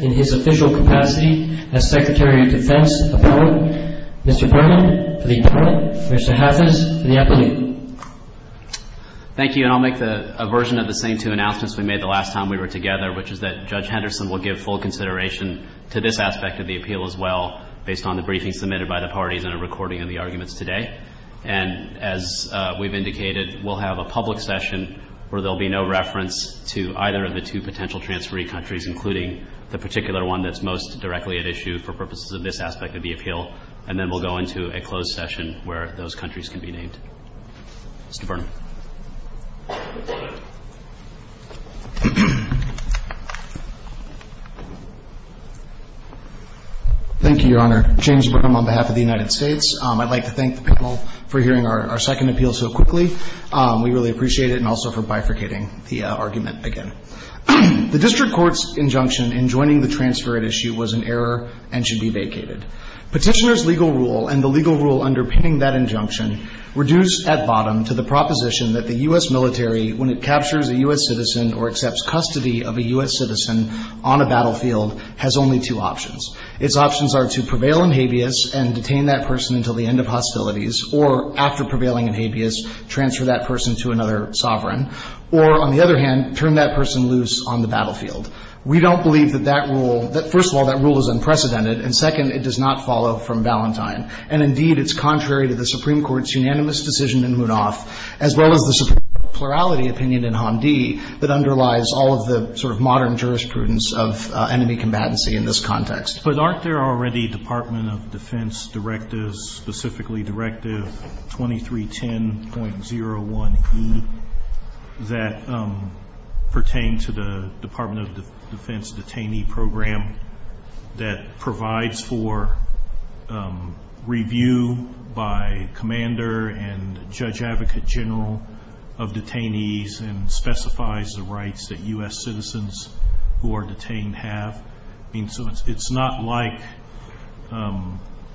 in his official capacity as Secretary of Defense, appoint Mr. Berman for the appellate and Mr. Hathis for the appellate. Thank you and I'll make a version of the same two announcements we made the last time we were together, which is that Judge Henderson will give full consideration to this aspect of the appeal as well, based on the briefing submitted by the parties and a recording of the arguments today. And as we've indicated, we'll have a public session where there will be no reference to either of the two potential transferee countries, including the particular one that's most directly at issue for purposes of this aspect of the appeal, and then we'll go into a closed session where those countries can be named. Mr. Berman. Thank you, Your Honor. James Berman on behalf of the United States. I'd like to thank the panel for hearing our second appeal so quickly. We really appreciate it, and also for bifurcating the argument again. The district court's injunction in joining the transfer at issue was an error and should be vacated. Petitioner's legal rule and the legal rule underpinning that injunction reduce at bottom to the proposition that the U.S. military, when it captures a U.S. citizen or accepts custody of a U.S. citizen on a battlefield, has only two options. Its options are to prevail in habeas and detain that person until the end of hostilities, or after prevailing in habeas, transfer that person to another sovereign, or, on the other hand, turn that person loose on the battlefield. We don't believe that that rule — that, first of all, that rule is unprecedented, and, second, it does not follow from Valentine. And, indeed, it's contrary to the Supreme Court's unanimous decision in Munoz, as well as the plurality opinion in Hamdi that underlies all of the sort of modern jurisprudence of enemy combatancy in this context. But aren't there already Department of Defense directives, specifically Directive 2310.01E, that pertain to the Department of Defense detainee program, that provides for review by commander and judge advocate general of detainees and specifies the rights that U.S. citizens who are detained have? I mean, so it's not like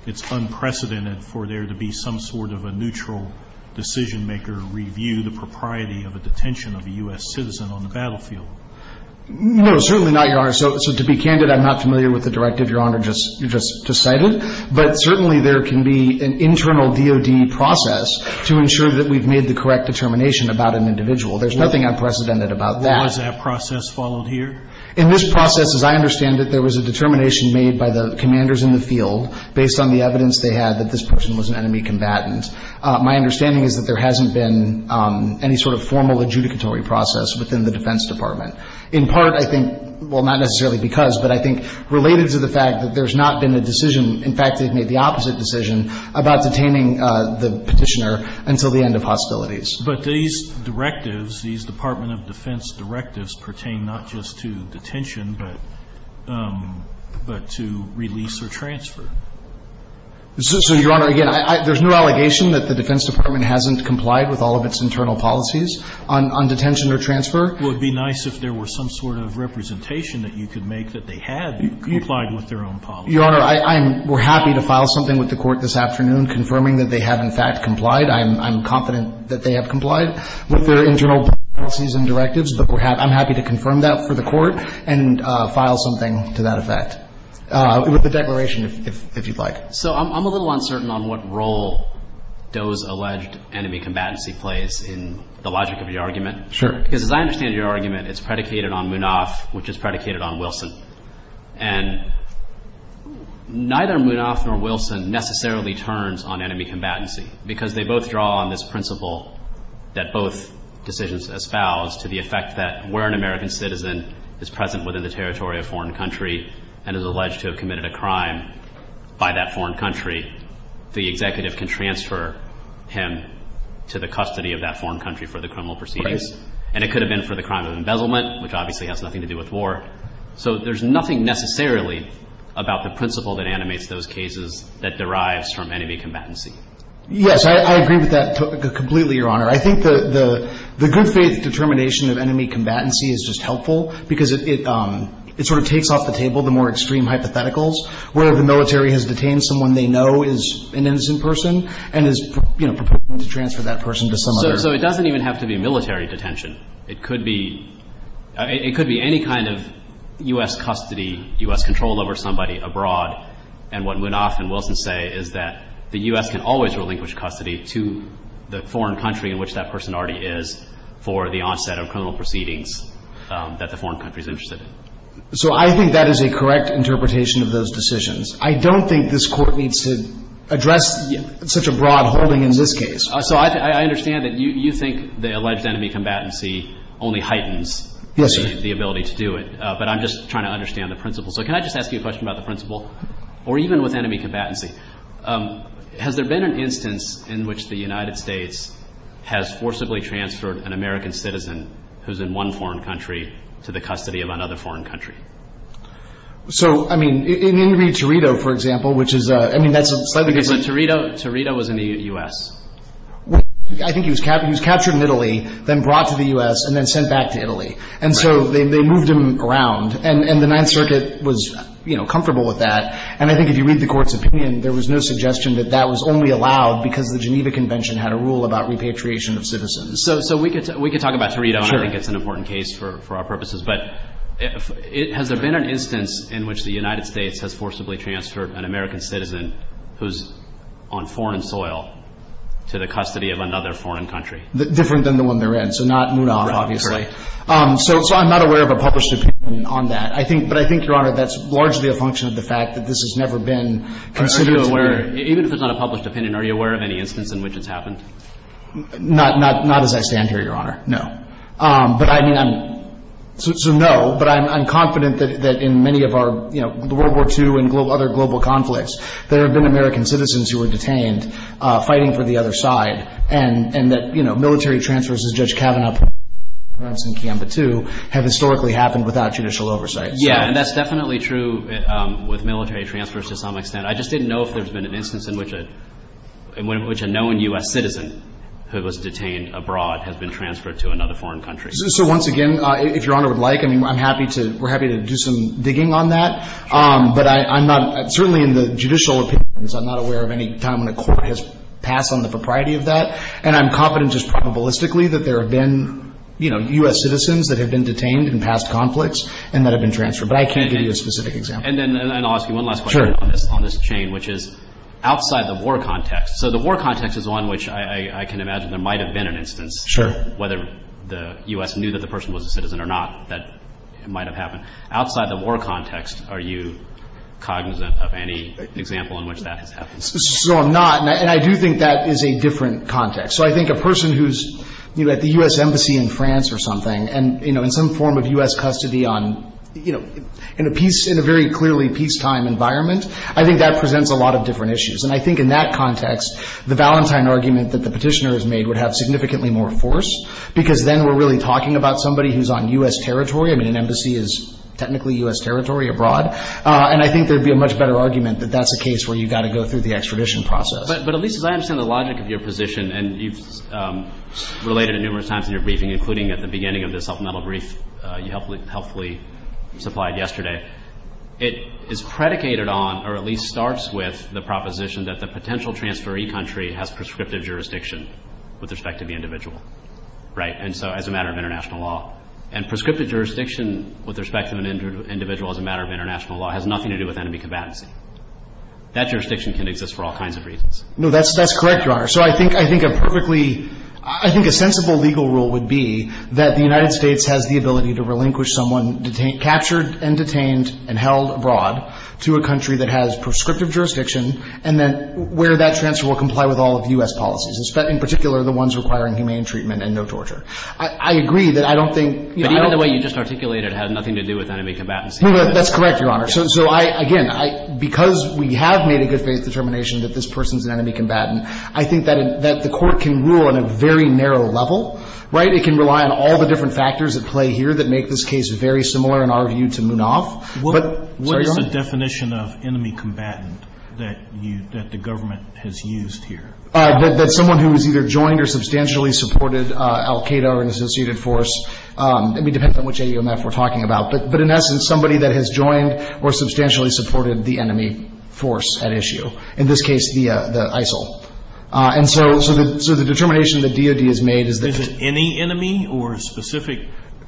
it's unprecedented for there to be some sort of a neutral decision-maker review, the propriety of a detention of a U.S. citizen on the battlefield. No, certainly not, Your Honor. So to be candid, I'm not familiar with the directive Your Honor just cited. But certainly there can be an internal DOD process to ensure that we've made the correct determination about an individual. There's nothing unprecedented about that. Was that process followed here? In this process, as I understand it, there was a determination made by the commanders in the field based on the evidence they had that this person was an enemy combatant. My understanding is that there hasn't been any sort of formal adjudicatory process within the Defense Department. In part, I think, well, not necessarily because, but I think related to the fact that there's not been a decision, in fact, they've made the opposite decision about detaining the Petitioner until the end of hostilities. But these directives, these Department of Defense directives pertain not just to detention but to release or transfer. So, Your Honor, again, there's no allegation that the Defense Department hasn't complied with all of its internal policies on detention or transfer. Well, it would be nice if there were some sort of representation that you could make that they had complied with their own policies. Your Honor, I'm happy to file something with the Court this afternoon confirming that they have, in fact, complied. I'm confident that they have complied with their internal policies and directives, but I'm happy to confirm that for the Court and file something to that effect with a declaration if you'd like. So I'm a little uncertain on what role Doe's alleged enemy combatancy plays in the logic of your argument. Sure. Because as I understand your argument, it's predicated on Munaf, which is predicated on Wilson. And neither Munaf nor Wilson necessarily turns on enemy combatancy because they both draw on this principle that both decisions espouse to the effect that where an American citizen is present within the territory of a foreign country and is alleged to have committed a crime by that foreign country, the executive can transfer him to the custody of that foreign country for the criminal proceedings. Right. And it could have been for the crime of embezzlement, which obviously has nothing to do with war. So there's nothing necessarily about the principle that animates those cases that derives from enemy combatancy. Yes. I agree with that completely, Your Honor. I think the good faith determination of enemy combatancy is just helpful because it sort of takes off the table the more extreme hypotheticals where the military has detained someone they know is an innocent person and is, you know, preparing to transfer that person to some other. So it doesn't even have to be military detention. It could be any kind of U.S. custody, U.S. control over somebody abroad. And what Munaf and Wilson say is that the U.S. can always relinquish custody to the foreign country in which that person already is for the onset of criminal proceedings that the foreign country is interested in. So I think that is a correct interpretation of those decisions. I don't think this Court needs to address such a broad holding in this case. So I understand that you think the alleged enemy combatancy only heightens the ability to do it. But I'm just trying to understand the principle. So can I just ask you a question about the principle? Or even with enemy combatancy, has there been an instance in which the United States has forcibly transferred an American citizen who is in one foreign country to the custody of another foreign country? So, I mean, in the interview with Torito, for example, which is a, I mean, that's a slightly different... Because Torito was in the U.S. I think he was captured in Italy, then brought to the U.S., and then sent back to Italy. And so they moved him around. And the Ninth Circuit was, you know, comfortable with that. And I think if you read the Court's opinion, there was no suggestion that that was only allowed because the Geneva Convention had a rule about repatriation of citizens. So we could talk about Torito, and I think it's an important case for our purposes. But has there been an instance in which the United States has forcibly transferred an American citizen who's on foreign soil to the custody of another foreign country? Different than the one they're in. So not Munoz, obviously. Right. So I'm not aware of a published opinion on that. But I think, Your Honor, that's largely a function of the fact that this has never been considered to be... Even if it's not a published opinion, are you aware of any instance in which it's happened? Not as I stand here, Your Honor. No. But I mean, I'm... So, no. But I'm confident that in many of our, you know, World War II and other global conflicts, there have been American citizens who were detained fighting for the other side. And that, you know, military transfers, as Judge Kavanaugh put it in Kiampa II, have historically happened without judicial oversight. Yeah. And that's definitely true with military transfers to some extent. I just didn't know if there's been an instance in which a known U.S. citizen who was detained abroad has been transferred to another foreign country. So once again, if Your Honor would like, I mean, I'm happy to... We're happy to do some digging on that. But I'm not... Certainly in the judicial opinions, I'm not aware of any time when a court has passed on the propriety of that. And I'm confident just probabilistically that there have been, you know, U.S. citizens that have been detained in past conflicts and that have been transferred. But I can't give you a specific example. And then I'll ask you one last question on this chain, which is outside the war context. So the war context is one which I can imagine there might have been an instance. Sure. Whether the U.S. knew that the person was a citizen or not, that might have happened. Outside the war context, are you cognizant of any example in which that has happened? So I'm not. And I do think that is a different context. So I think a person who's, you know, at the U.S. Embassy in France or something, and, you know, in some form of U.S. custody on, you know, in a peace, in a very clearly peacetime environment, I think that presents a lot of different issues. And I think in that context, the Valentine argument that the petitioner has made would have significantly more force, because then we're really talking about somebody who's on U.S. territory. I mean, an embassy is technically U.S. territory abroad. And I think there would be a much better argument that that's a case where you've got to go through the extradition process. But at least as I understand the logic of your position, and you've related it numerous times in your briefing, including at the beginning of the supplemental brief you helpfully supplied yesterday, it is predicated on, or at least starts with, the proposition that the potential transferee country has prescriptive jurisdiction with respect to the individual. Right? And so as a matter of international law. And prescriptive jurisdiction with respect to an individual as a matter of international law has nothing to do with enemy combatants. That jurisdiction can exist for all kinds of reasons. No, that's correct, Your Honor. So I think a perfectly, I think a sensible legal rule would be that the United States has the ability to relinquish someone captured and detained and held abroad to a country that has prescriptive jurisdiction and then where that transfer will comply with all of U.S. policies, in particular the ones requiring humane treatment and no torture. I agree that I don't think, you know. But even the way you just articulated it had nothing to do with enemy combatants. No, that's correct, Your Honor. So I, again, because we have made a good faith determination that this person is an enemy combatant, I think that the court can rule on a very narrow level. Right? It can rely on all the different factors at play here that make this case very similar in our view to Munaf. What is the definition of enemy combatant that you, that the government has used here? That's someone who has either joined or substantially supported al-Qaeda or an associated force. I mean, it depends on which AUMF we're talking about. But in essence, somebody that has joined or substantially supported the enemy force at issue. In this case, the ISIL. And so the determination the DOD has made is that. Is it any enemy or a specific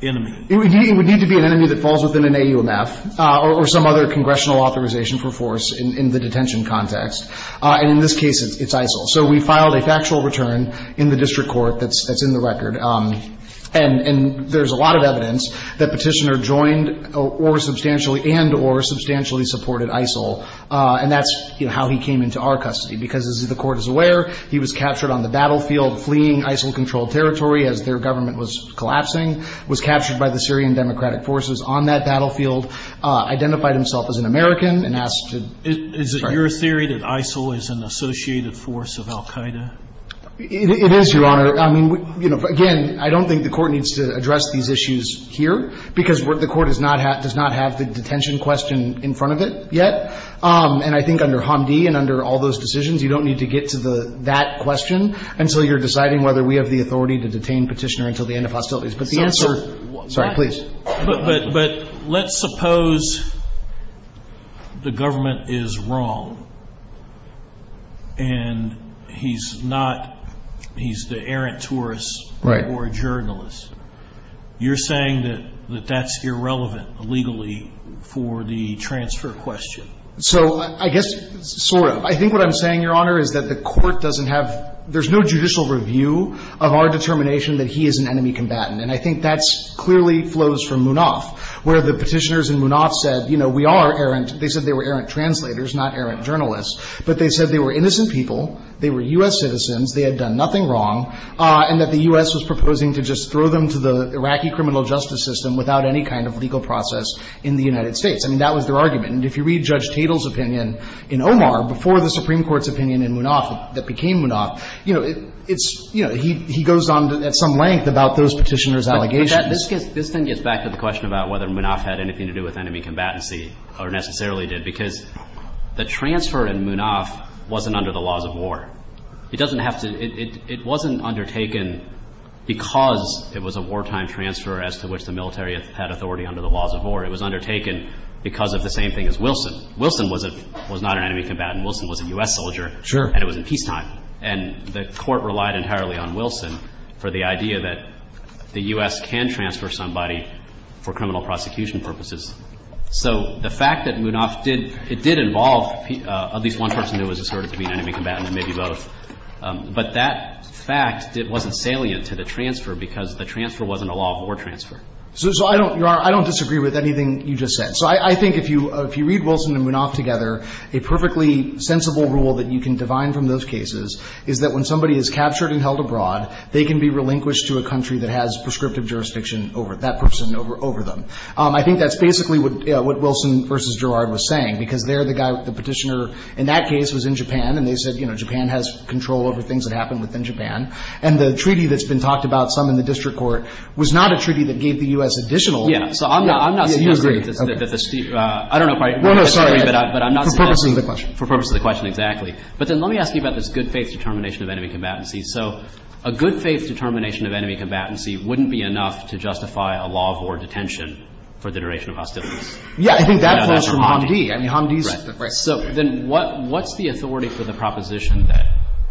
enemy? It would need to be an enemy that falls within an AUMF or some other congressional authorization for force in the detention context. And in this case, it's ISIL. So we filed a factual return in the district court that's in the record. And there's a lot of evidence that Petitioner joined or substantially and or substantially supported ISIL. And that's, you know, how he came into our custody. Because as the Court is aware, he was captured on the battlefield fleeing ISIL-controlled territory as their government was collapsing, was captured by the Syrian Democratic forces on that battlefield, identified himself as an American and asked to. Is it your theory that ISIL is an associated force of al Qaeda? It is, Your Honor. I mean, you know, again, I don't think the Court needs to address these issues here. Because the Court does not have the detention question in front of it yet. And I think under Hamdi and under all those decisions, you don't need to get to that question until you're deciding whether we have the authority to detain Petitioner until the end of hostilities. But the answer. Sorry, please. But let's suppose the government is wrong and he's not, he's the errant tourist or journalist. You're saying that that's irrelevant legally for the transfer question. So I guess sort of. I think what I'm saying, Your Honor, is that the Court doesn't have, there's no judicial review of our determination that he is an enemy combatant. And I think that clearly flows from Munaf, where the Petitioners in Munaf said, you know, we are errant. They said they were errant translators, not errant journalists. But they said they were innocent people, they were U.S. citizens, they had done nothing wrong, and that the U.S. was proposing to just throw them to the Iraqi criminal justice system without any kind of legal process in the United States. I mean, that was their argument. And if you read Judge Tatel's opinion in Omar before the Supreme Court's opinion in Munaf that became Munaf, you know, it's, you know, he goes on at some length about those Petitioners' allegations. But this gets, this thing gets back to the question about whether Munaf had anything to do with enemy combatancy or necessarily did, because the transfer in Munaf wasn't under the laws of war. It doesn't have to, it wasn't undertaken because it was a wartime transfer as to which the military had authority under the laws of war. It was undertaken because of the same thing as Wilson. Wilson was not an enemy combatant. Wilson was a U.S. soldier. Sure. And it was in peacetime. And the Court relied entirely on Wilson for the idea that the U.S. can transfer somebody for criminal prosecution purposes. So the fact that Munaf did, it did involve at least one person who was asserted to be an enemy combatant and maybe both. But that fact, it wasn't salient to the transfer because the transfer wasn't a law of war transfer. So I don't, Your Honor, I don't disagree with anything you just said. So I think if you, if you read Wilson and Munaf together, a perfectly sensible rule that you can divine from those cases is that when somebody is captured and held abroad, they can be relinquished to a country that has prescriptive jurisdiction over that person, over them. I think that's basically what Wilson v. Gerrard was saying, because there the guy, the Petitioner in that case was in Japan, and they said, you know, Japan has control over things that happen within Japan. And the treaty that's been talked about, some in the district court, was not a treaty that gave the U.S. additional. Yeah. So I'm not, I'm not. You agree. I don't know if I disagree, but I'm not saying that. For purposes of the question. For purposes of the question, exactly. But then let me ask you about this good faith determination of enemy combatancy. So a good faith determination of enemy combatancy wouldn't be enough to justify a law of war detention for the duration of hostilities. Yeah. I think that falls from Hamdi. I mean, Hamdi's. Right. Right. So then what, what's the authority for the proposition that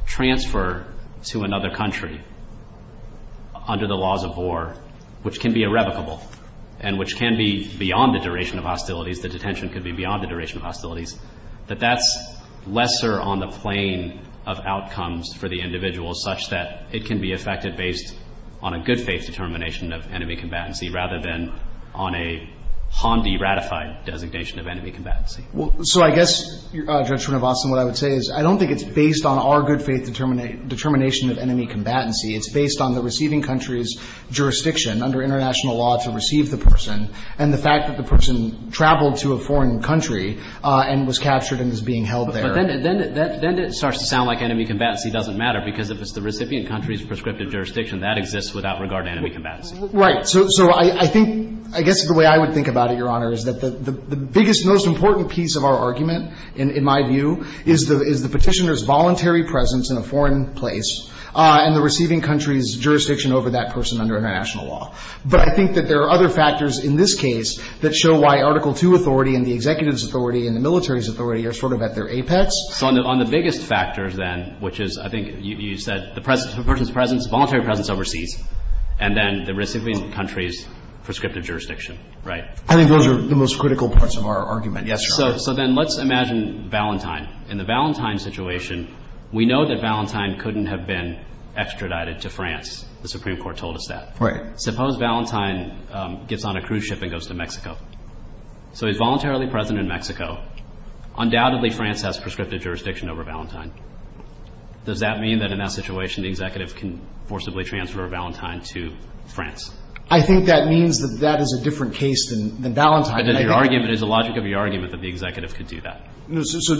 transfer to another country under the laws of war, which can be irrevocable and which can be beyond the duration of hostilities, the detention could be beyond the duration of hostilities, that that's lesser on the plane of outcomes for the individual such that it can be effected based on a good faith determination of enemy combatancy rather than on a Hamdi ratified designation of enemy combatancy? Well, so I guess, Judge Srinivasan, what I would say is I don't think it's based on our good faith determination of enemy combatancy. It's based on the receiving country's jurisdiction under international law to receive the person and the fact that the person traveled to a foreign country and was captured and is being held there. But then it starts to sound like enemy combatancy doesn't matter because if it's the recipient country's prescriptive jurisdiction, that exists without regard to enemy combatancy. Right. So I think, I guess the way I would think about it, Your Honor, is that the biggest, most important piece of our argument, in my view, is the Petitioner's voluntary presence in a foreign place and the receiving country's jurisdiction over that person under international law. But I think that there are other factors in this case that show why Article II authority and the executive's authority and the military's authority are sort of at their apex. So on the biggest factor then, which is I think you said the person's presence, voluntary presence overseas, and then the receiving country's prescriptive jurisdiction, right? I think those are the most critical parts of our argument, yes, Your Honor. So then let's imagine Valentine. In the Valentine situation, we know that Valentine couldn't have been extradited to France. The Supreme Court told us that. Right. Suppose Valentine gets on a cruise ship and goes to Mexico. So he's voluntarily present in Mexico. Undoubtedly, France has prescriptive jurisdiction over Valentine. Does that mean that in that situation the executive can forcibly transfer Valentine to France? I think that means that that is a different case than Valentine. But then your argument is the logic of your argument that the executive could do that. So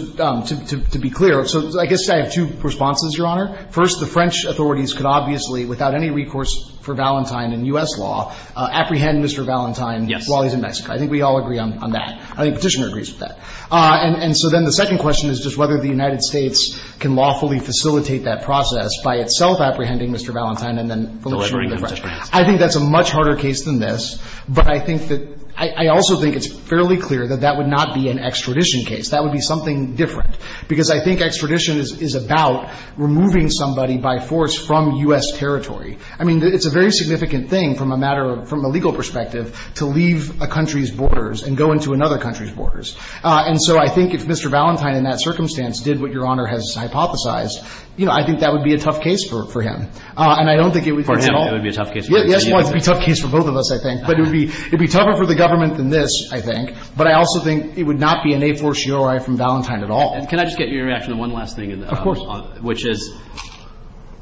to be clear, so I guess I have two responses, Your Honor. First, the French authorities could obviously, without any recourse for Valentine in U.S. law, apprehend Mr. Valentine while he's in Mexico. Yes. I think we all agree on that. I think Petitioner agrees with that. And so then the second question is just whether the United States can lawfully facilitate that process by itself apprehending Mr. Valentine and then delivering him to France. I think that's a much harder case than this, but I think that – I also think it's fairly clear that that would not be an extradition case. That would be something different, because I think extradition is about removing somebody by force from U.S. territory. I mean, it's a very significant thing from a matter of – from a legal perspective to leave a country's borders and go into another country's borders. And so I think if Mr. Valentine in that circumstance did what Your Honor has hypothesized, you know, I think that would be a tough case for him. And I don't think it would be at all – For him, it would be a tough case. Yes, it would be a tough case for both of us, I think. But it would be tougher for the government than this, I think. But I also think it would not be an a fortiori from Valentine at all. And can I just get your reaction to one last thing? Of course. Which is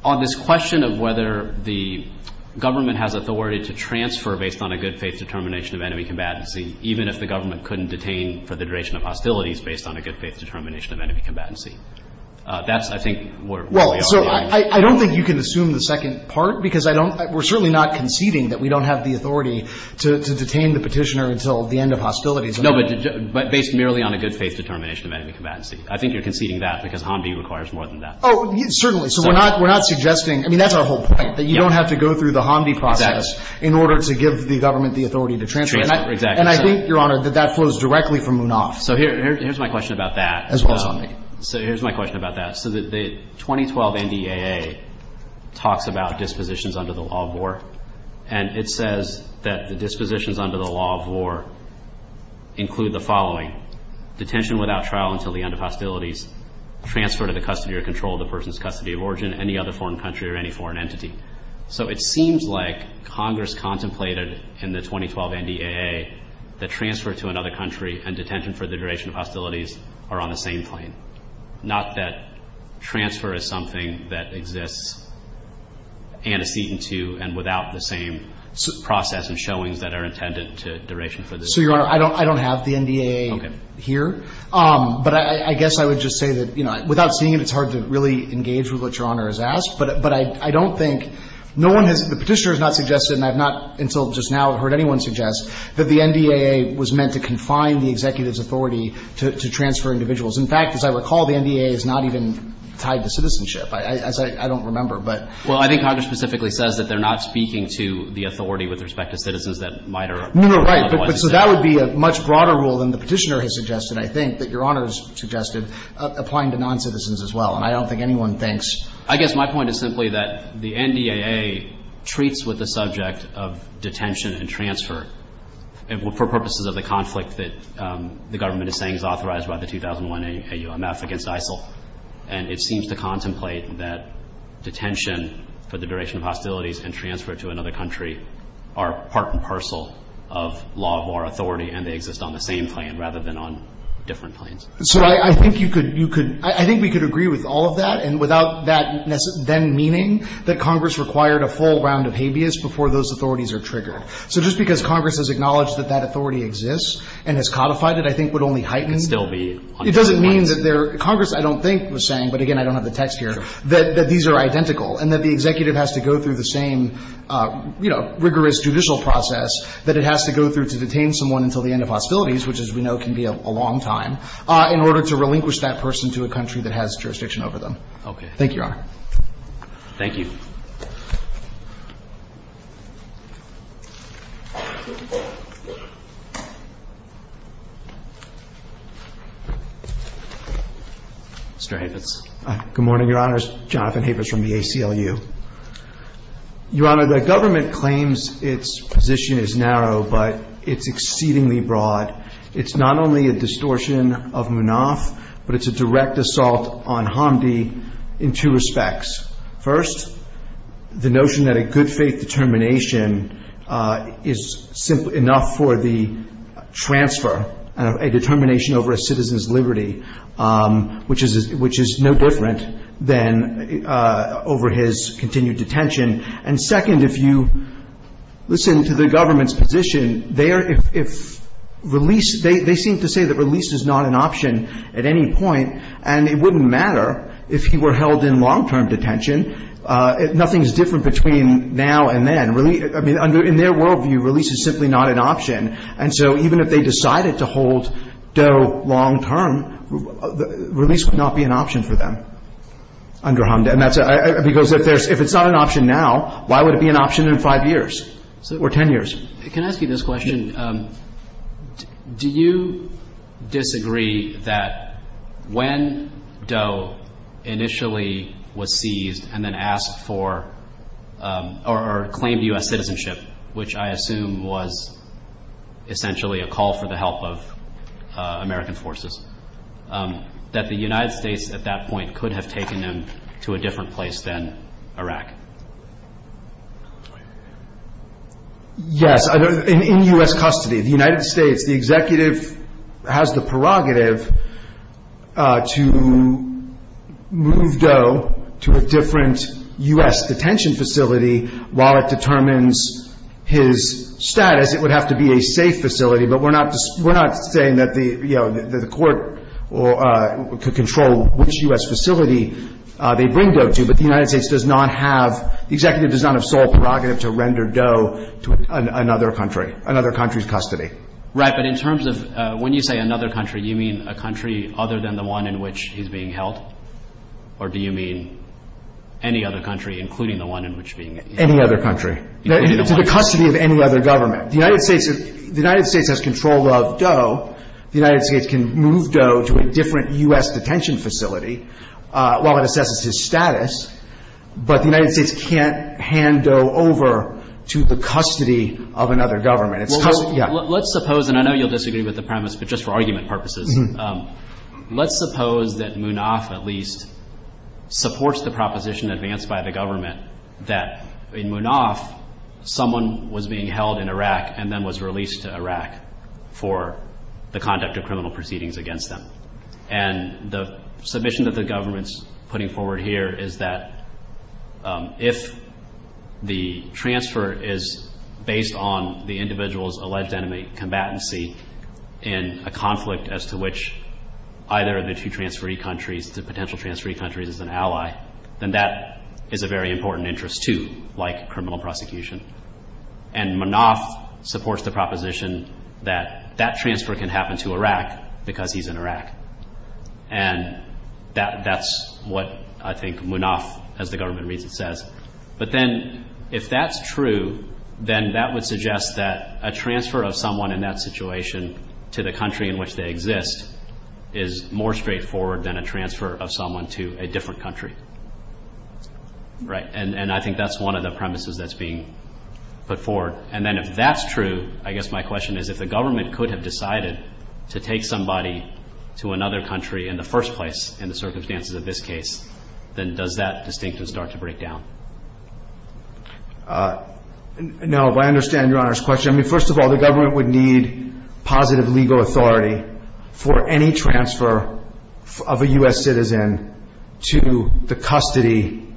on this question of whether the government has authority to transfer based on a good-faith determination of enemy combatancy, even if the government couldn't detain for the duration of hostilities based on a good-faith determination of enemy combatancy. That's, I think, where we are. Well, so I don't think you can assume the second part, because I don't – we're certainly not conceding that we don't have the authority to detain the Petitioner until the end of hostilities. No, but based merely on a good-faith determination of enemy combatancy. I think you're conceding that because Hamdi requires more than that. Oh, certainly. So we're not suggesting – I mean, that's our whole point, that you don't have to go through the Hamdi process in order to give the government the authority to transfer. Exactly. And I think, Your Honor, that that flows directly from Munoz. So here's my question about that. As well as Hamdi. So here's my question about that. So the 2012 NDAA talks about dispositions under the law of war. And it says that the dispositions under the law of war include the following. Detention without trial until the end of hostilities, transfer to the custody or control of the person's custody of origin, any other foreign country or any foreign entity. So it seems like Congress contemplated in the 2012 NDAA that transfer to another country and detention for the duration of hostilities are on the same plane. Not that transfer is something that exists antecedent to and without the same process and showings that are intended to duration for the same. So, Your Honor, I don't have the NDAA here. Okay. But I guess I would just say that, you know, without seeing it, it's hard to really engage with what Your Honor has asked. But I don't think – no one has – the Petitioner has not suggested, and I have not until just now heard anyone suggest, that the NDAA was meant to confine the executive's authority to transfer individuals. In fact, as I recall, the NDAA is not even tied to citizenship, as I don't remember. But – Well, I think Congress specifically says that they're not speaking to the authority with respect to citizens that might or might not otherwise exist. No, no, right. But so that would be a much broader rule than the Petitioner has suggested, I think, that Your Honor has suggested, applying to noncitizens as well. And I don't think anyone thinks – I guess my point is simply that the NDAA treats with the subject of detention and transfer for purposes of the conflict that the government is saying is authorized by the 2001 AUMF against ISIL. And it seems to contemplate that detention for the duration of hostilities and transfer to another country are part and parcel of law of our authority, and they exist on the same plane rather than on different planes. So I think you could – you could – I think we could agree with all of that, and without that then meaning that Congress required a full round of habeas before those authorities are triggered. So just because Congress has acknowledged that that authority exists and has codified it, I think would only heighten – Could still be on different lines. It doesn't mean that there – Congress I don't think was saying, but again I don't have the text here, that these are identical, and that the executive has to go through the same rigorous judicial process that it has to go through to detain someone until the end of hostilities, which as we know can be a long time, in order to relinquish that person to a country that has jurisdiction over them. Okay. Thank you, Your Honor. Thank you. Mr. Havis. Good morning, Your Honor. It's Jonathan Havis from the ACLU. Your Honor, the government claims its position is narrow, but it's exceedingly broad. It's not only a distortion of MUNAF, but it's a direct assault on Hamdi in two respects. First, it's a direct assault on Hamdi. The notion that a good faith determination is simply enough for the transfer, a determination over a citizen's liberty, which is no different than over his continued detention. And second, if you listen to the government's position, they seem to say that release is not an option at any point, and it wouldn't matter if he were held in long-term detention. Nothing is different between now and then. I mean, in their world view, release is simply not an option. And so even if they decided to hold Doe long term, release would not be an option for them under Hamdi. Because if it's not an option now, why would it be an option in five years or ten years? Can I ask you this question? Do you disagree that when Doe initially was seized and then asked for or claimed U.S. citizenship, which I assume was essentially a call for the help of American forces, that the United States at that point could have taken him to a different place than Iraq? Yes, in U.S. custody. The United States, the executive has the prerogative to move Doe to a different U.S. detention facility. While it determines his status, it would have to be a safe facility. But we're not saying that the court could control which U.S. facility they bring Doe to. But the United States does not have, the executive does not have sole prerogative to render Doe to another country, another country's custody. Right, but in terms of when you say another country, you mean a country other than the one in which he's being held? Or do you mean any other country, including the one in which he's being held? Any other country. To the custody of any other government. The United States has control of Doe. The United States can move Doe to a different U.S. detention facility. While it assesses his status. But the United States can't hand Doe over to the custody of another government. Let's suppose, and I know you'll disagree with the premise, but just for argument purposes, let's suppose that Munaf, at least, supports the proposition advanced by the government that in Munaf someone was being held in Iraq and then was released to Iraq for the conduct of criminal proceedings against them. And the submission that the government's putting forward here is that if the transfer is based on the individual's alleged enemy combatancy in a conflict as to which either of the two transferee countries, the potential transferee countries, is an ally, then that is a very important interest too, like criminal prosecution. And Munaf supports the proposition that that transfer can happen to Iraq because he's in Iraq. And that's what I think Munaf, as the government reads it, says. But then if that's true, then that would suggest that a transfer of someone in that situation to the country in which they exist is more straightforward than a transfer of someone to a different country. Right. And I think that's one of the premises that's being put forward. And then if that's true, I guess my question is if the government could have decided to take somebody to another country in the first place in the circumstances of this case, then does that distinction start to break down? No, but I understand Your Honor's question. I mean, first of all, the government would need positive legal authority for any transfer of a U.S. citizen to the custody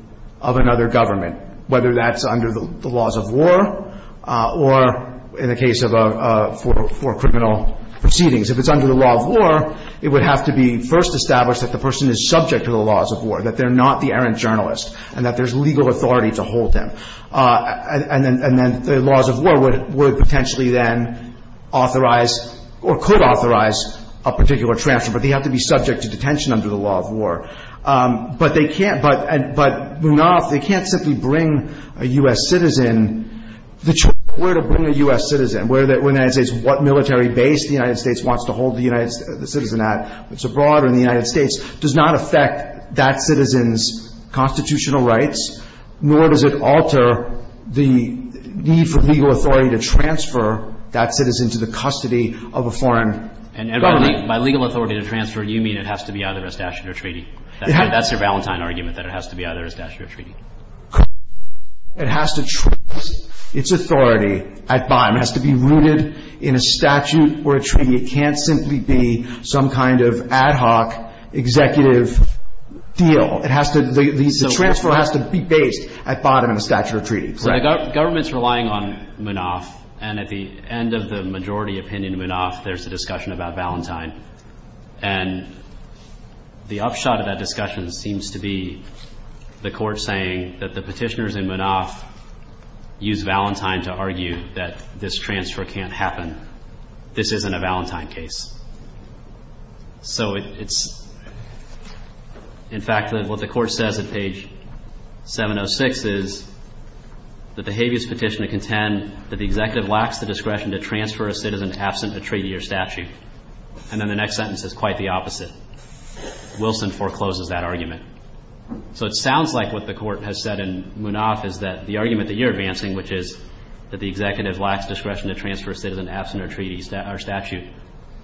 of another government, whether that's under the laws of war or in the case of a criminal proceedings. If it's under the law of war, it would have to be first established that the person is subject to the laws of war, that they're not the errant journalist, and that there's legal authority to hold them. And then the laws of war would potentially then authorize or could authorize a particular transfer, but they have to be subject to detention under the law of war. But they can't – but Munaf, they can't simply bring a U.S. citizen. The choice of where to bring a U.S. citizen, where the United States – what military base the United States wants to hold the citizen at, what's abroad or in the United States, does not affect that citizen's constitutional rights, nor does it alter the need for legal authority to transfer that citizen to the custody of a foreign government. And by legal authority to transfer, you mean it has to be either a statute or a treaty. That's your Valentine argument, that it has to be either a statute or a treaty. It has to transfer its authority at BIM. It has to be rooted in a statute or a treaty. It can't simply be some kind of ad hoc executive deal. It has to – the transfer has to be based at bottom in a statute or treaty. So the government's relying on Munaf, and at the end of the majority opinion in Munaf, there's a discussion about Valentine. And the upshot of that discussion seems to be the Court saying that the Petitioners in Munaf use Valentine to argue that this transfer can't happen. This isn't a Valentine case. So it's – in fact, what the Court says at page 706 is that the habeas petitioner contend that the executive lacks the discretion to transfer a citizen absent a treaty or statute. And then the next sentence is quite the opposite. Wilson forecloses that argument. So it sounds like what the Court has said in Munaf is that the argument that you're advancing, which is that the executive lacks discretion to transfer a citizen absent a treaty or statute,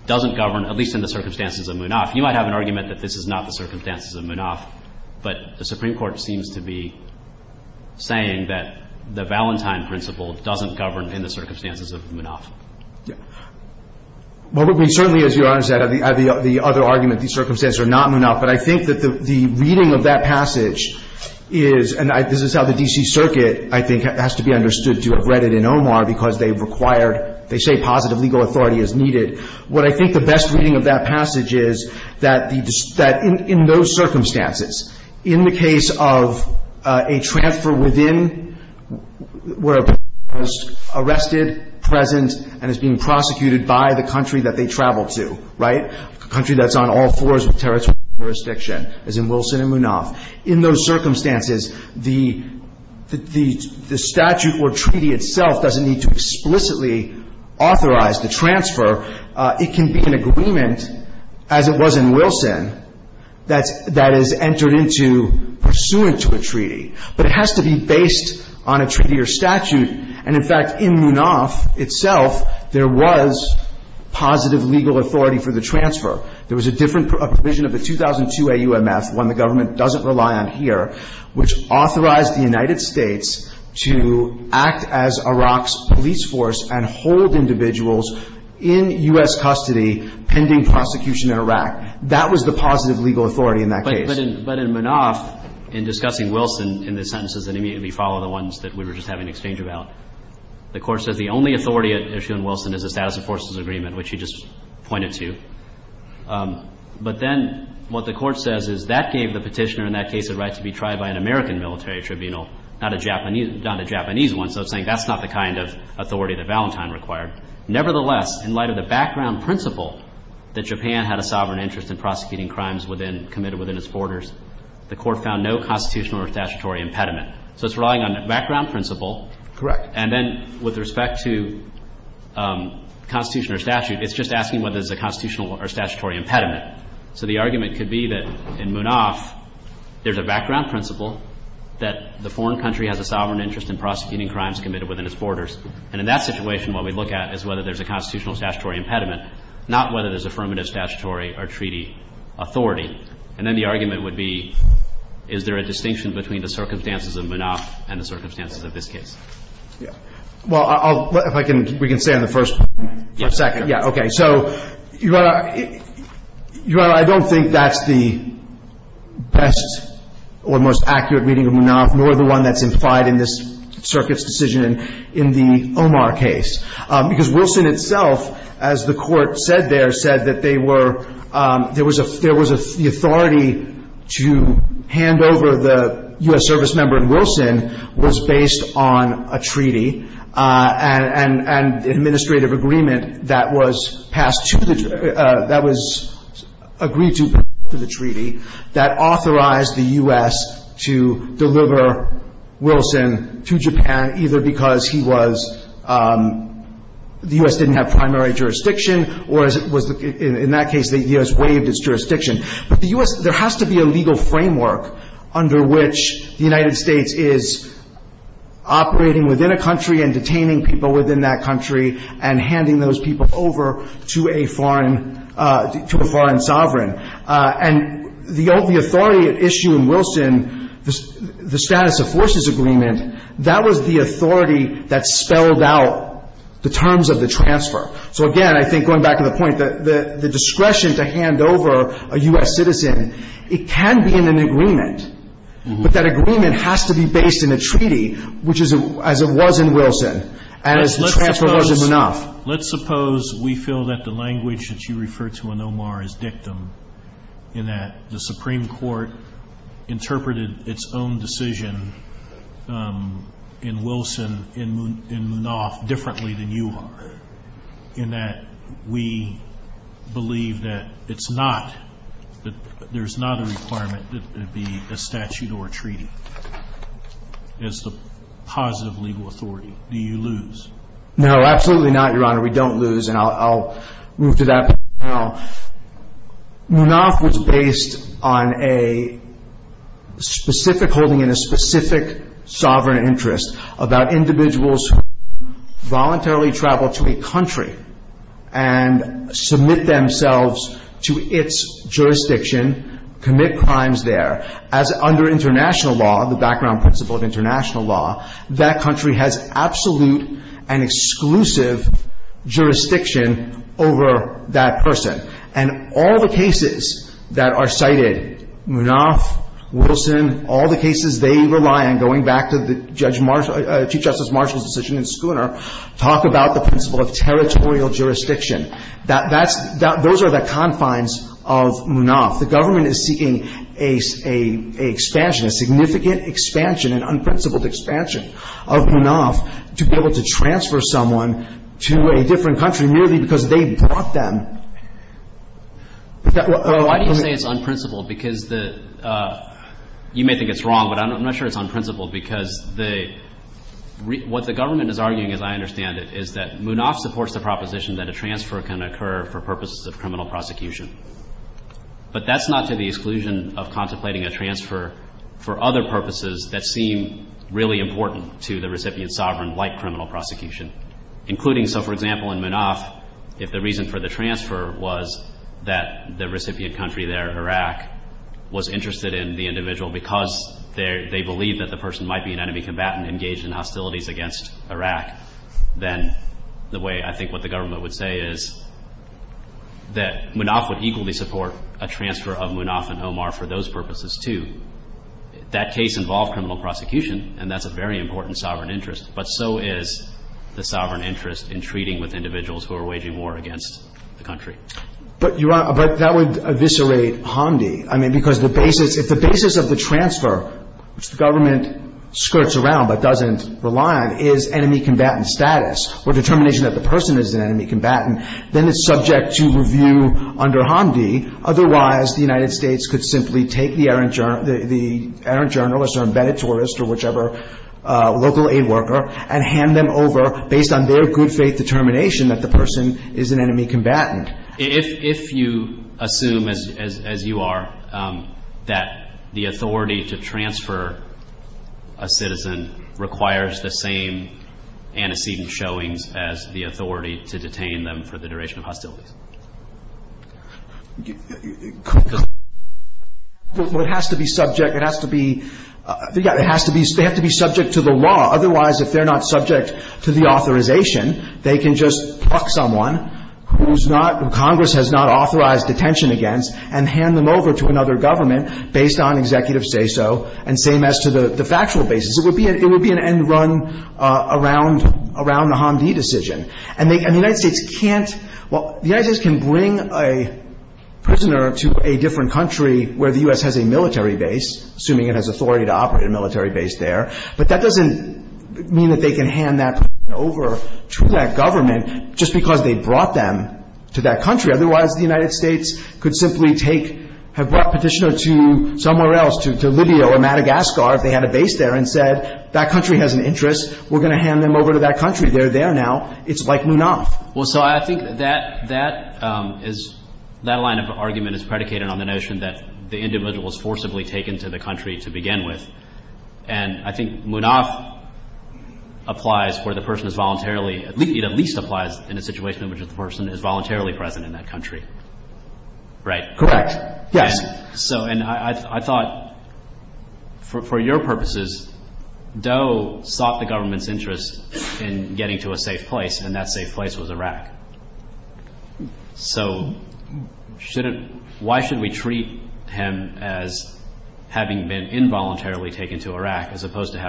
doesn't govern, at least in the circumstances of Munaf. You might have an argument that this is not the circumstances of Munaf, but the Supreme Court seems to be saying that the Valentine principle doesn't govern in the circumstances of Munaf. Yeah. Well, I mean, certainly, as Your Honor said, the other argument, the circumstances are not Munaf. But I think that the reading of that passage is – and this is how the D.C. Circuit, I think, has to be understood to have read it in Omar because they required – what I think the best reading of that passage is that the – that in those circumstances, in the case of a transfer within where a person is arrested, present, and is being prosecuted by the country that they travel to, right, a country that's on all fours of territory jurisdiction, as in Wilson and Munaf, in those circumstances, the statute or treaty itself doesn't need to explicitly authorize the transfer. It can be an agreement, as it was in Wilson, that's – that is entered into pursuant to a treaty. But it has to be based on a treaty or statute. And, in fact, in Munaf itself, there was positive legal authority for the transfer. There was a different provision of the 2002 AUMF, one the government doesn't rely on here, which authorized the United States to act as Iraq's police force and hold individuals in U.S. custody pending prosecution in Iraq. That was the positive legal authority in that case. But in – but in Munaf, in discussing Wilson, in the sentences that immediately follow the ones that we were just having an exchange about, the Court says the only authority at issue in Wilson is a status of forces agreement, which you just pointed to. But then what the Court says is that gave the petitioner in that case a right to be tried by an American military tribunal, not a Japanese – not a Japanese one. So it's saying that's not the kind of authority that Valentine required. Nevertheless, in light of the background principle that Japan had a sovereign interest in prosecuting crimes within – committed within its borders, the Court found no constitutional or statutory impediment. So it's relying on a background principle. Correct. And then with respect to constitution or statute, it's just asking whether there's a constitutional or statutory impediment. So the argument could be that in Munaf there's a background principle that the foreign country has a sovereign interest in prosecuting crimes committed within its borders. And in that situation, what we look at is whether there's a constitutional or statutory impediment, not whether there's affirmative statutory or treaty authority. And then the argument would be, is there a distinction between the circumstances of Munaf and the circumstances of this case? Yeah. Well, I'll – if I can – we can stay on the first point for a second. Yeah. Okay. So, Your Honor, I don't think that's the best or most accurate reading of Munaf nor the one that's implied in this Circuit's decision in the Omar case. Because Wilson itself, as the Court said there, said that they were – there was a – the authority to hand over the U.S. servicemember in Wilson was based on a treaty and an administrative agreement that was passed to the – that was agreed to for the treaty that authorized the U.S. to deliver Wilson to Japan, either because he was – the U.S. didn't have primary jurisdiction or was – in that case, the U.S. waived its jurisdiction. But the U.S. – there has to be a legal framework under which the United States is operating within a country and detaining people within that country and handing those people over to a foreign – to a foreign sovereign. And the authority at issue in Wilson, the status of forces agreement, that was the authority that spelled out the terms of the transfer. So, again, I think going back to the point that the discretion to hand over a U.S. citizen, it can be in an agreement, but that agreement has to be based in a treaty, which is – as it was in Wilson and as the transfer was in Munaf. Let's suppose – let's suppose we feel that the language that you refer to in Omar is dictum, in that the Supreme Court interpreted its own decision in Wilson, in Munaf, differently than you are, in that we believe that it's not – that there's not a requirement that it be a statute or a treaty as the positive legal authority. Do you lose? No, absolutely not, Your Honor. We don't lose, and I'll move to that point now. Munaf was based on a specific – holding in a specific sovereign interest about individuals who voluntarily travel to a country and submit themselves to its jurisdiction, commit crimes there, as under international law, the background principle of international law, that country has absolute and exclusive jurisdiction over that person. And all the cases that are cited, Munaf, Wilson, all the cases they rely on, going back to the Chief Justice Marshall's decision in Schooner, talk about the principle of territorial jurisdiction. That's – those are the confines of Munaf. The government is seeking an expansion, a significant expansion, an unprincipled expansion of Munaf to be able to transfer someone to a different country merely because they brought them. Why do you say it's unprincipled? Because the – you may think it's wrong, but I'm not sure it's unprincipled because the – what the government is arguing, as I understand it, is that Munaf supports the proposition that a transfer can occur for purposes of criminal prosecution. But that's not to the exclusion of contemplating a transfer for other purposes that seem really important to the recipient sovereign like criminal prosecution, including – so, for example, in Munaf, if the reason for the transfer was that the recipient country there, Iraq, was interested in the individual because they believe that the person might be an enemy combatant engaged in hostilities against Iraq, then the way – I think what the government would say is that Munaf would equally support a transfer of Munaf and Omar for those purposes, too. That case involved criminal prosecution, and that's a very important sovereign interest. But so is the sovereign interest in treating with individuals who are waging war against the country. But, Your Honor, but that would eviscerate Hamdi. I mean, because the basis – if the basis of the transfer, which the government skirts around but doesn't rely on, is enemy combatant status or determination that the person is an enemy combatant, then it's subject to review under Hamdi. Otherwise, the United States could simply take the errant – the errant journalist or whichever local aid worker and hand them over, based on their good faith determination, that the person is an enemy combatant. If you assume, as you are, that the authority to transfer a citizen requires the same antecedent showings as the authority to detain them for the duration of hostilities. Well, it has to be subject – it has to be – yeah, it has to be – they have to be subject to the law. Otherwise, if they're not subject to the authorization, they can just pluck someone who's not – who Congress has not authorized detention against and hand them over to another government based on executive say-so and same as to the factual basis. It would be an end run around the Hamdi decision. And the United States can't – well, the United States can bring a prisoner to a different country where the U.S. has a military base, assuming it has authority to operate a military base there, but that doesn't mean that they can hand that person over to that government just because they brought them to that country. Otherwise, the United States could simply take – have brought a petitioner to somewhere else, to Libya or Madagascar, if they had a base there, and said, that country has an interest. We're going to hand them over to that country. They're there now. It's like Munaf. Well, so I think that that is – that line of argument is predicated on the notion that the individual is forcibly taken to the country to begin with. And I think Munaf applies where the person is voluntarily – it at least applies in a situation in which the person is voluntarily present in that country. Right? Correct. Yes. So – and I thought, for your purposes, Doe sought the government's interest in getting to a safe place, and that safe place was Iraq. So why should we treat him as having been involuntarily taken to Iraq as opposed to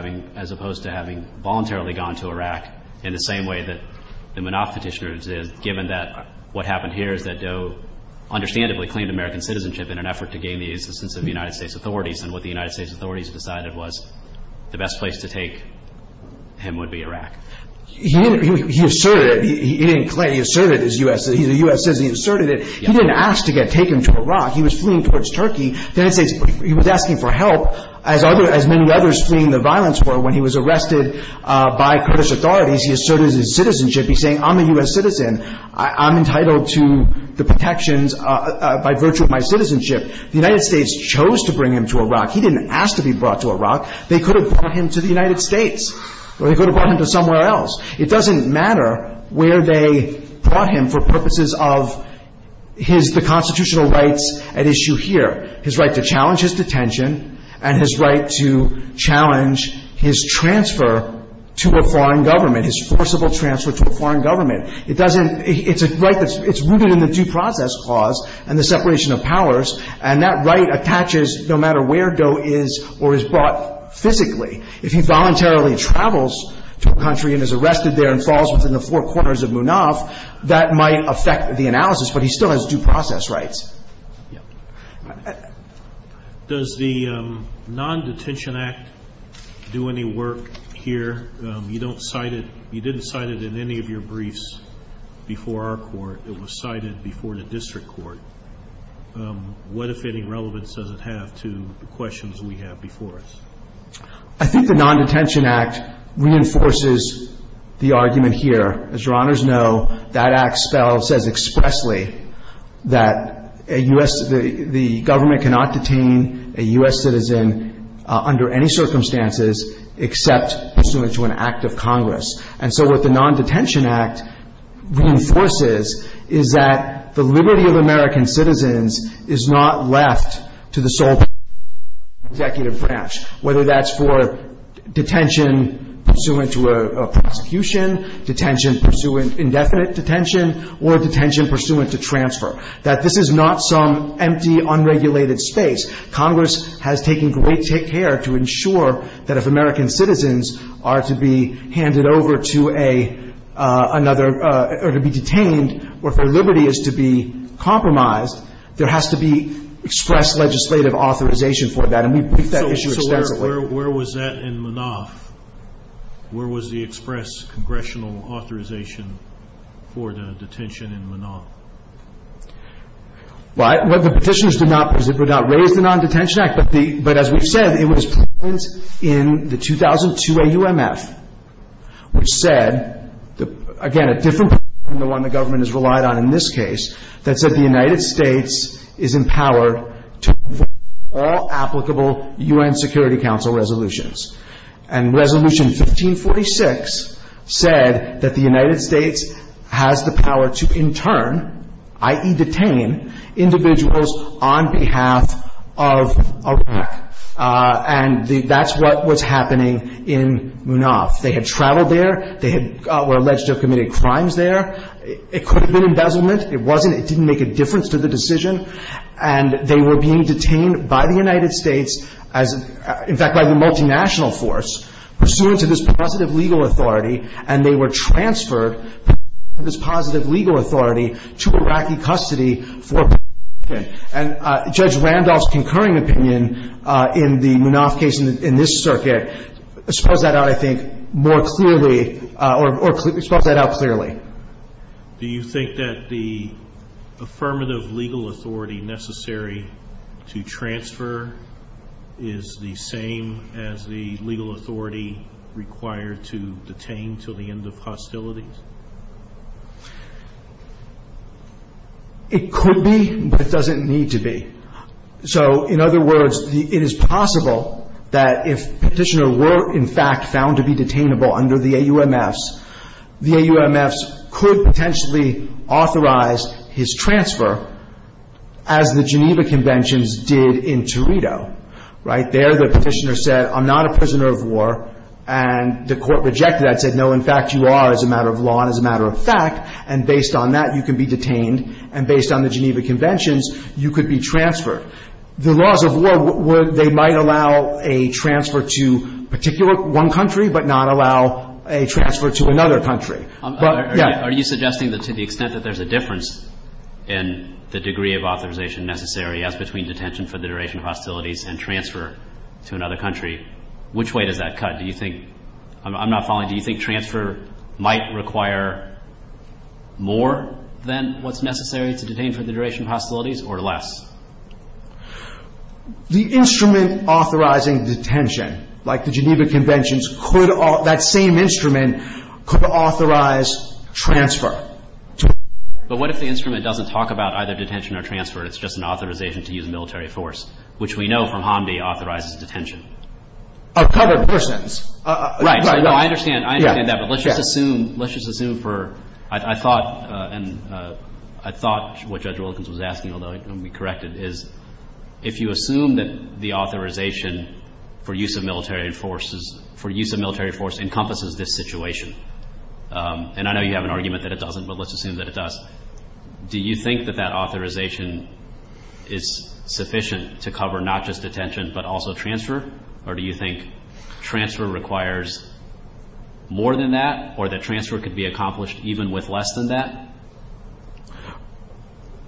having voluntarily gone to Iraq in the same way that the Munaf petitioner did, given that what happened here is that Doe understandably claimed American citizenship in an effort to gain the assistance of the United States authorities. And what the United States authorities decided was the best place to take him would be Iraq. He asserted – he didn't claim – he asserted, as the U.S. says, he asserted it. He didn't ask to get taken to Iraq. He was fleeing towards Turkey. He was asking for help, as many others fleeing the violence were. When he was arrested by Kurdish authorities, he asserted his citizenship. He's saying, I'm a U.S. citizen. I'm entitled to the protections by virtue of my citizenship. The United States chose to bring him to Iraq. He didn't ask to be brought to Iraq. They could have brought him to the United States, or they could have brought him to somewhere else. It doesn't matter where they brought him for purposes of his – the constitutional rights at issue here, his right to challenge his detention and his right to challenge his transfer to a foreign government, his forcible transfer to a foreign government. It doesn't – it's a right that's – it's rooted in the due process clause and the separation of powers, and that right attaches no matter where Doe is or is brought physically. If he voluntarily travels to a country and is arrested there and falls within the four corners of Munaf, that might affect the analysis, but he still has due process rights. Yeah. Does the Non-Detention Act do any work here? You don't cite it – you didn't cite it in any of your briefs before our court. It was cited before the district court. What, if any, relevance does it have to the questions we have before us? I think the Non-Detention Act reinforces the argument here. As Your Honors know, that act says expressly that a U.S. – the government cannot detain a U.S. citizen under any circumstances except pursuant to an act of Congress. And so what the Non-Detention Act reinforces is that the liberty of American citizens is not left to the sole power of the executive branch, whether that's for detention pursuant to a prosecution, detention pursuant – indefinite detention, or detention pursuant to transfer. That this is not some empty, unregulated space. Congress has taken great care to ensure that if American citizens are to be handed over to another – or to be detained, or if their liberty is to be compromised, there has to be expressed legislative authorization for that. And we've picked that issue extensively. So where was that in MNOF? Where was the express congressional authorization for the detention in MNOF? Well, the petitioners did not raise the Non-Detention Act. But as we've said, it was present in the 2002 AUMF, which said – again, a different point from the one the government has relied on in this case – that said the United States is empowered to enforce all applicable UN Security Council resolutions. And Resolution 1546 said that the United States has the power to intern, i.e. detain, individuals on behalf of Iraq. And that's what was happening in MNOF. They had traveled there. They were alleged to have committed crimes there. It could have been embezzlement. It wasn't. It didn't make a difference to the decision. And they were being detained by the United States as – in fact, by the multinational force, pursuant to this positive legal authority, and they were transferred, pursuant to this positive legal authority, to Iraqi custody for detention. And Judge Randolph's concurring opinion in the MNOF case in this circuit spells that out, I think, more clearly – or spells that out clearly. Do you think that the affirmative legal authority necessary to transfer is the same as the legal authority required to detain until the end of hostilities? It could be, but it doesn't need to be. So, in other words, it is possible that if petitioner were, in fact, found to be detainable under the AUMFs, the AUMFs could potentially authorize his transfer as the Geneva Conventions did in Torito, right? There, the petitioner said, I'm not a prisoner of war, and the court rejected that, said, no, in fact, you are as a matter of law and as a matter of fact, and based on that, you can be detained, and based on the Geneva Conventions, you could be transferred. The laws of war, they might allow a transfer to particular one country but not allow a transfer to another country. But, yeah. Are you suggesting that to the extent that there's a difference in the degree of authorization necessary as between detention for the duration of hostilities and transfer to another country, which way does that cut? Do you think – I'm not following. Do you think transfer might require more than what's necessary to detain for the duration of hostilities or less? The instrument authorizing detention, like the Geneva Conventions, could – that same instrument could authorize transfer. But what if the instrument doesn't talk about either detention or transfer? It's just an authorization to use military force, which we know from Hamdi authorizes detention. Of covered persons. Right. No, I understand. I understand that. But let's just assume – let's just assume for – I thought – and I thought what Judge Wilkins was asking, although I'm going to be corrected, is if you assume that the authorization for use of military forces – for use of military force encompasses this situation, and I know you have an argument that it doesn't, but let's assume that it does, do you think that that authorization is sufficient to cover not just detention but also transfer? Or do you think transfer requires more than that or that transfer could be accomplished even with less than that?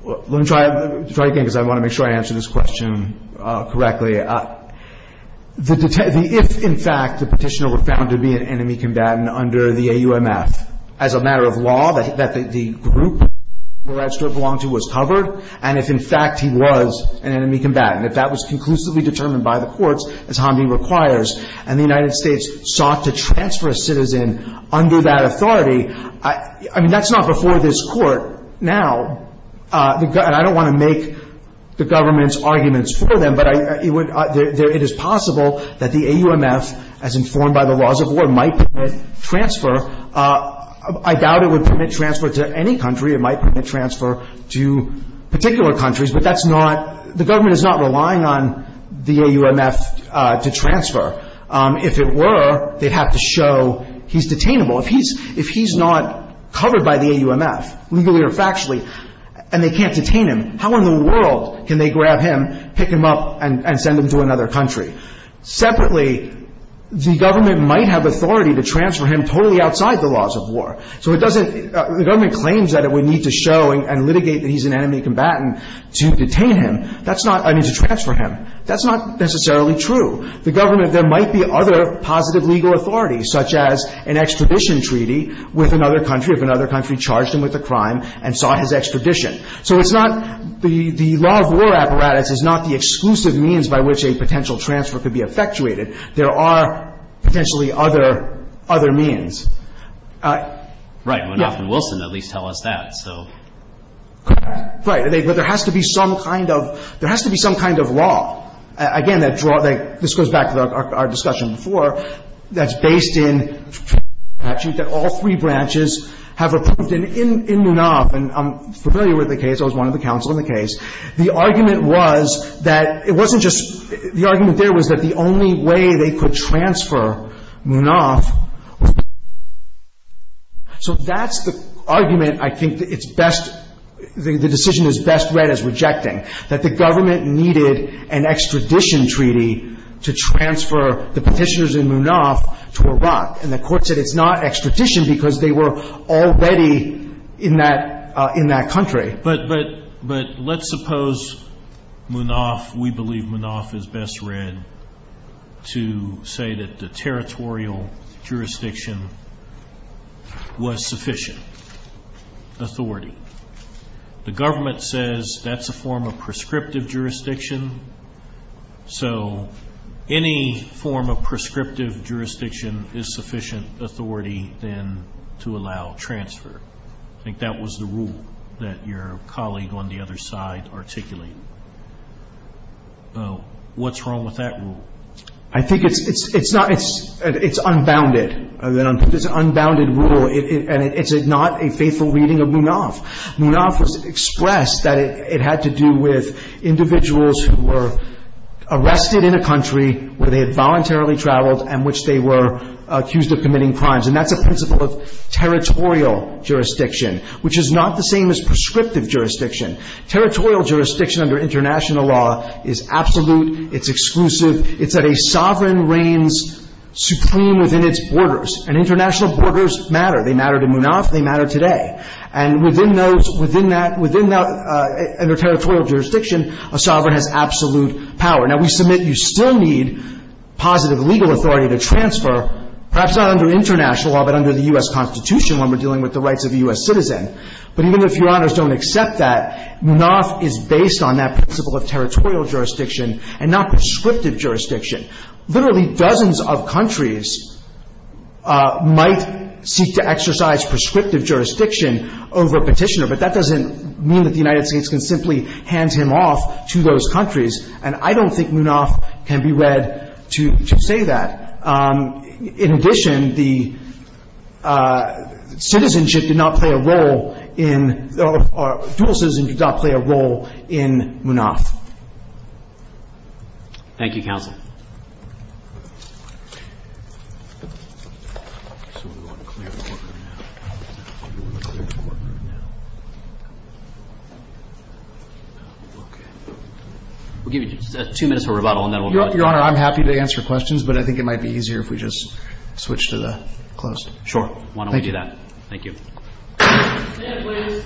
Let me try again because I want to make sure I answer this question correctly. The – if, in fact, the petitioner were found to be an enemy combatant under the AUMF, as a matter of law, that the group the registrar belonged to was covered, and if, in fact, he was an enemy combatant, if that was conclusively determined by the courts, as Hamdi requires, and the United States sought to transfer a citizen under that authority, I mean, that's not before this court now, and I don't want to make the government's arguments for them, but it is possible that the AUMF, as informed by the laws of war, might permit transfer. I doubt it would permit transfer to any country. It might permit transfer to particular countries, but that's not – the government is not relying on the AUMF to transfer. If it were, they'd have to show he's detainable. If he's – if he's not covered by the AUMF, legally or factually, and they can't detain him, how in the world can they grab him, pick him up, and send him to another country? Separately, the government might have authority to transfer him totally outside the laws of war. So it doesn't – the government claims that it would need to show and litigate that he's an enemy combatant to detain him. That's not – I mean, to transfer him. That's not necessarily true. The government – there might be other positive legal authority, such as an extradition treaty with another country, if another country charged him with a crime and saw his extradition. So it's not – the law of war apparatus is not the exclusive means by which a potential transfer could be effectuated. There are potentially other means. Right. Well, Noff and Wilson at least tell us that, so. Right. But there has to be some kind of – there has to be some kind of law. Again, that – this goes back to our discussion before. That's based in the statute that all three branches have approved. And in Munoff – and I'm familiar with the case. I was one of the counsel in the case. The argument was that it wasn't just – the argument there was that the only way they could transfer Munoff was to detain him. So that's the argument I think it's best – the decision is best read as rejecting, that the government needed an extradition treaty to transfer the Petitioners in Munoff to Iraq. And the Court said it's not extradition because they were already in that – in that country. But – but let's suppose Munoff – we believe Munoff is best read to say that the territorial jurisdiction was sufficient, authority. The government says that's a form of prescriptive jurisdiction. So any form of prescriptive jurisdiction is sufficient authority then to allow transfer. I think that was the rule that your colleague on the other side articulated. So what's wrong with that rule? I think it's – it's not – it's unbounded. It's an unbounded rule, and it's not a faithful reading of Munoff. Munoff has expressed that it had to do with individuals who were arrested in a country where they had voluntarily traveled and which they were accused of committing crimes. And that's a principle of territorial jurisdiction, which is not the same as prescriptive jurisdiction. Territorial jurisdiction under international law is absolute, it's exclusive, it's that a sovereign reigns supreme within its borders. And international borders matter. They matter to Munoff. They matter today. And within those – within that – within that – under territorial jurisdiction, a sovereign has absolute power. Now, we submit you still need positive legal authority to transfer, perhaps not under international law, but under the U.S. Constitution when we're dealing with the rights of a U.S. citizen. But even if Your Honors don't accept that, Munoff is based on that principle of territorial jurisdiction and not prescriptive jurisdiction. Literally dozens of countries might seek to exercise prescriptive jurisdiction over a petitioner, but that doesn't mean that the United States can simply hand him off to those countries. And I don't think Munoff can be read to say that. In addition, the citizenship did not play a role in – dual citizenship did not play a role in Munoff. Thank you, Counsel. We'll give you two minutes for rebuttal and then we'll go to questions. Well, Your Honor, I'm happy to answer questions, but I think it might be easier if we just switch to the closed. Sure. Why don't we do that? Thank you. Stand, please.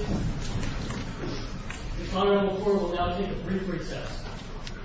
The Honorable Court will now take a brief recess. Thank you, Your Honor.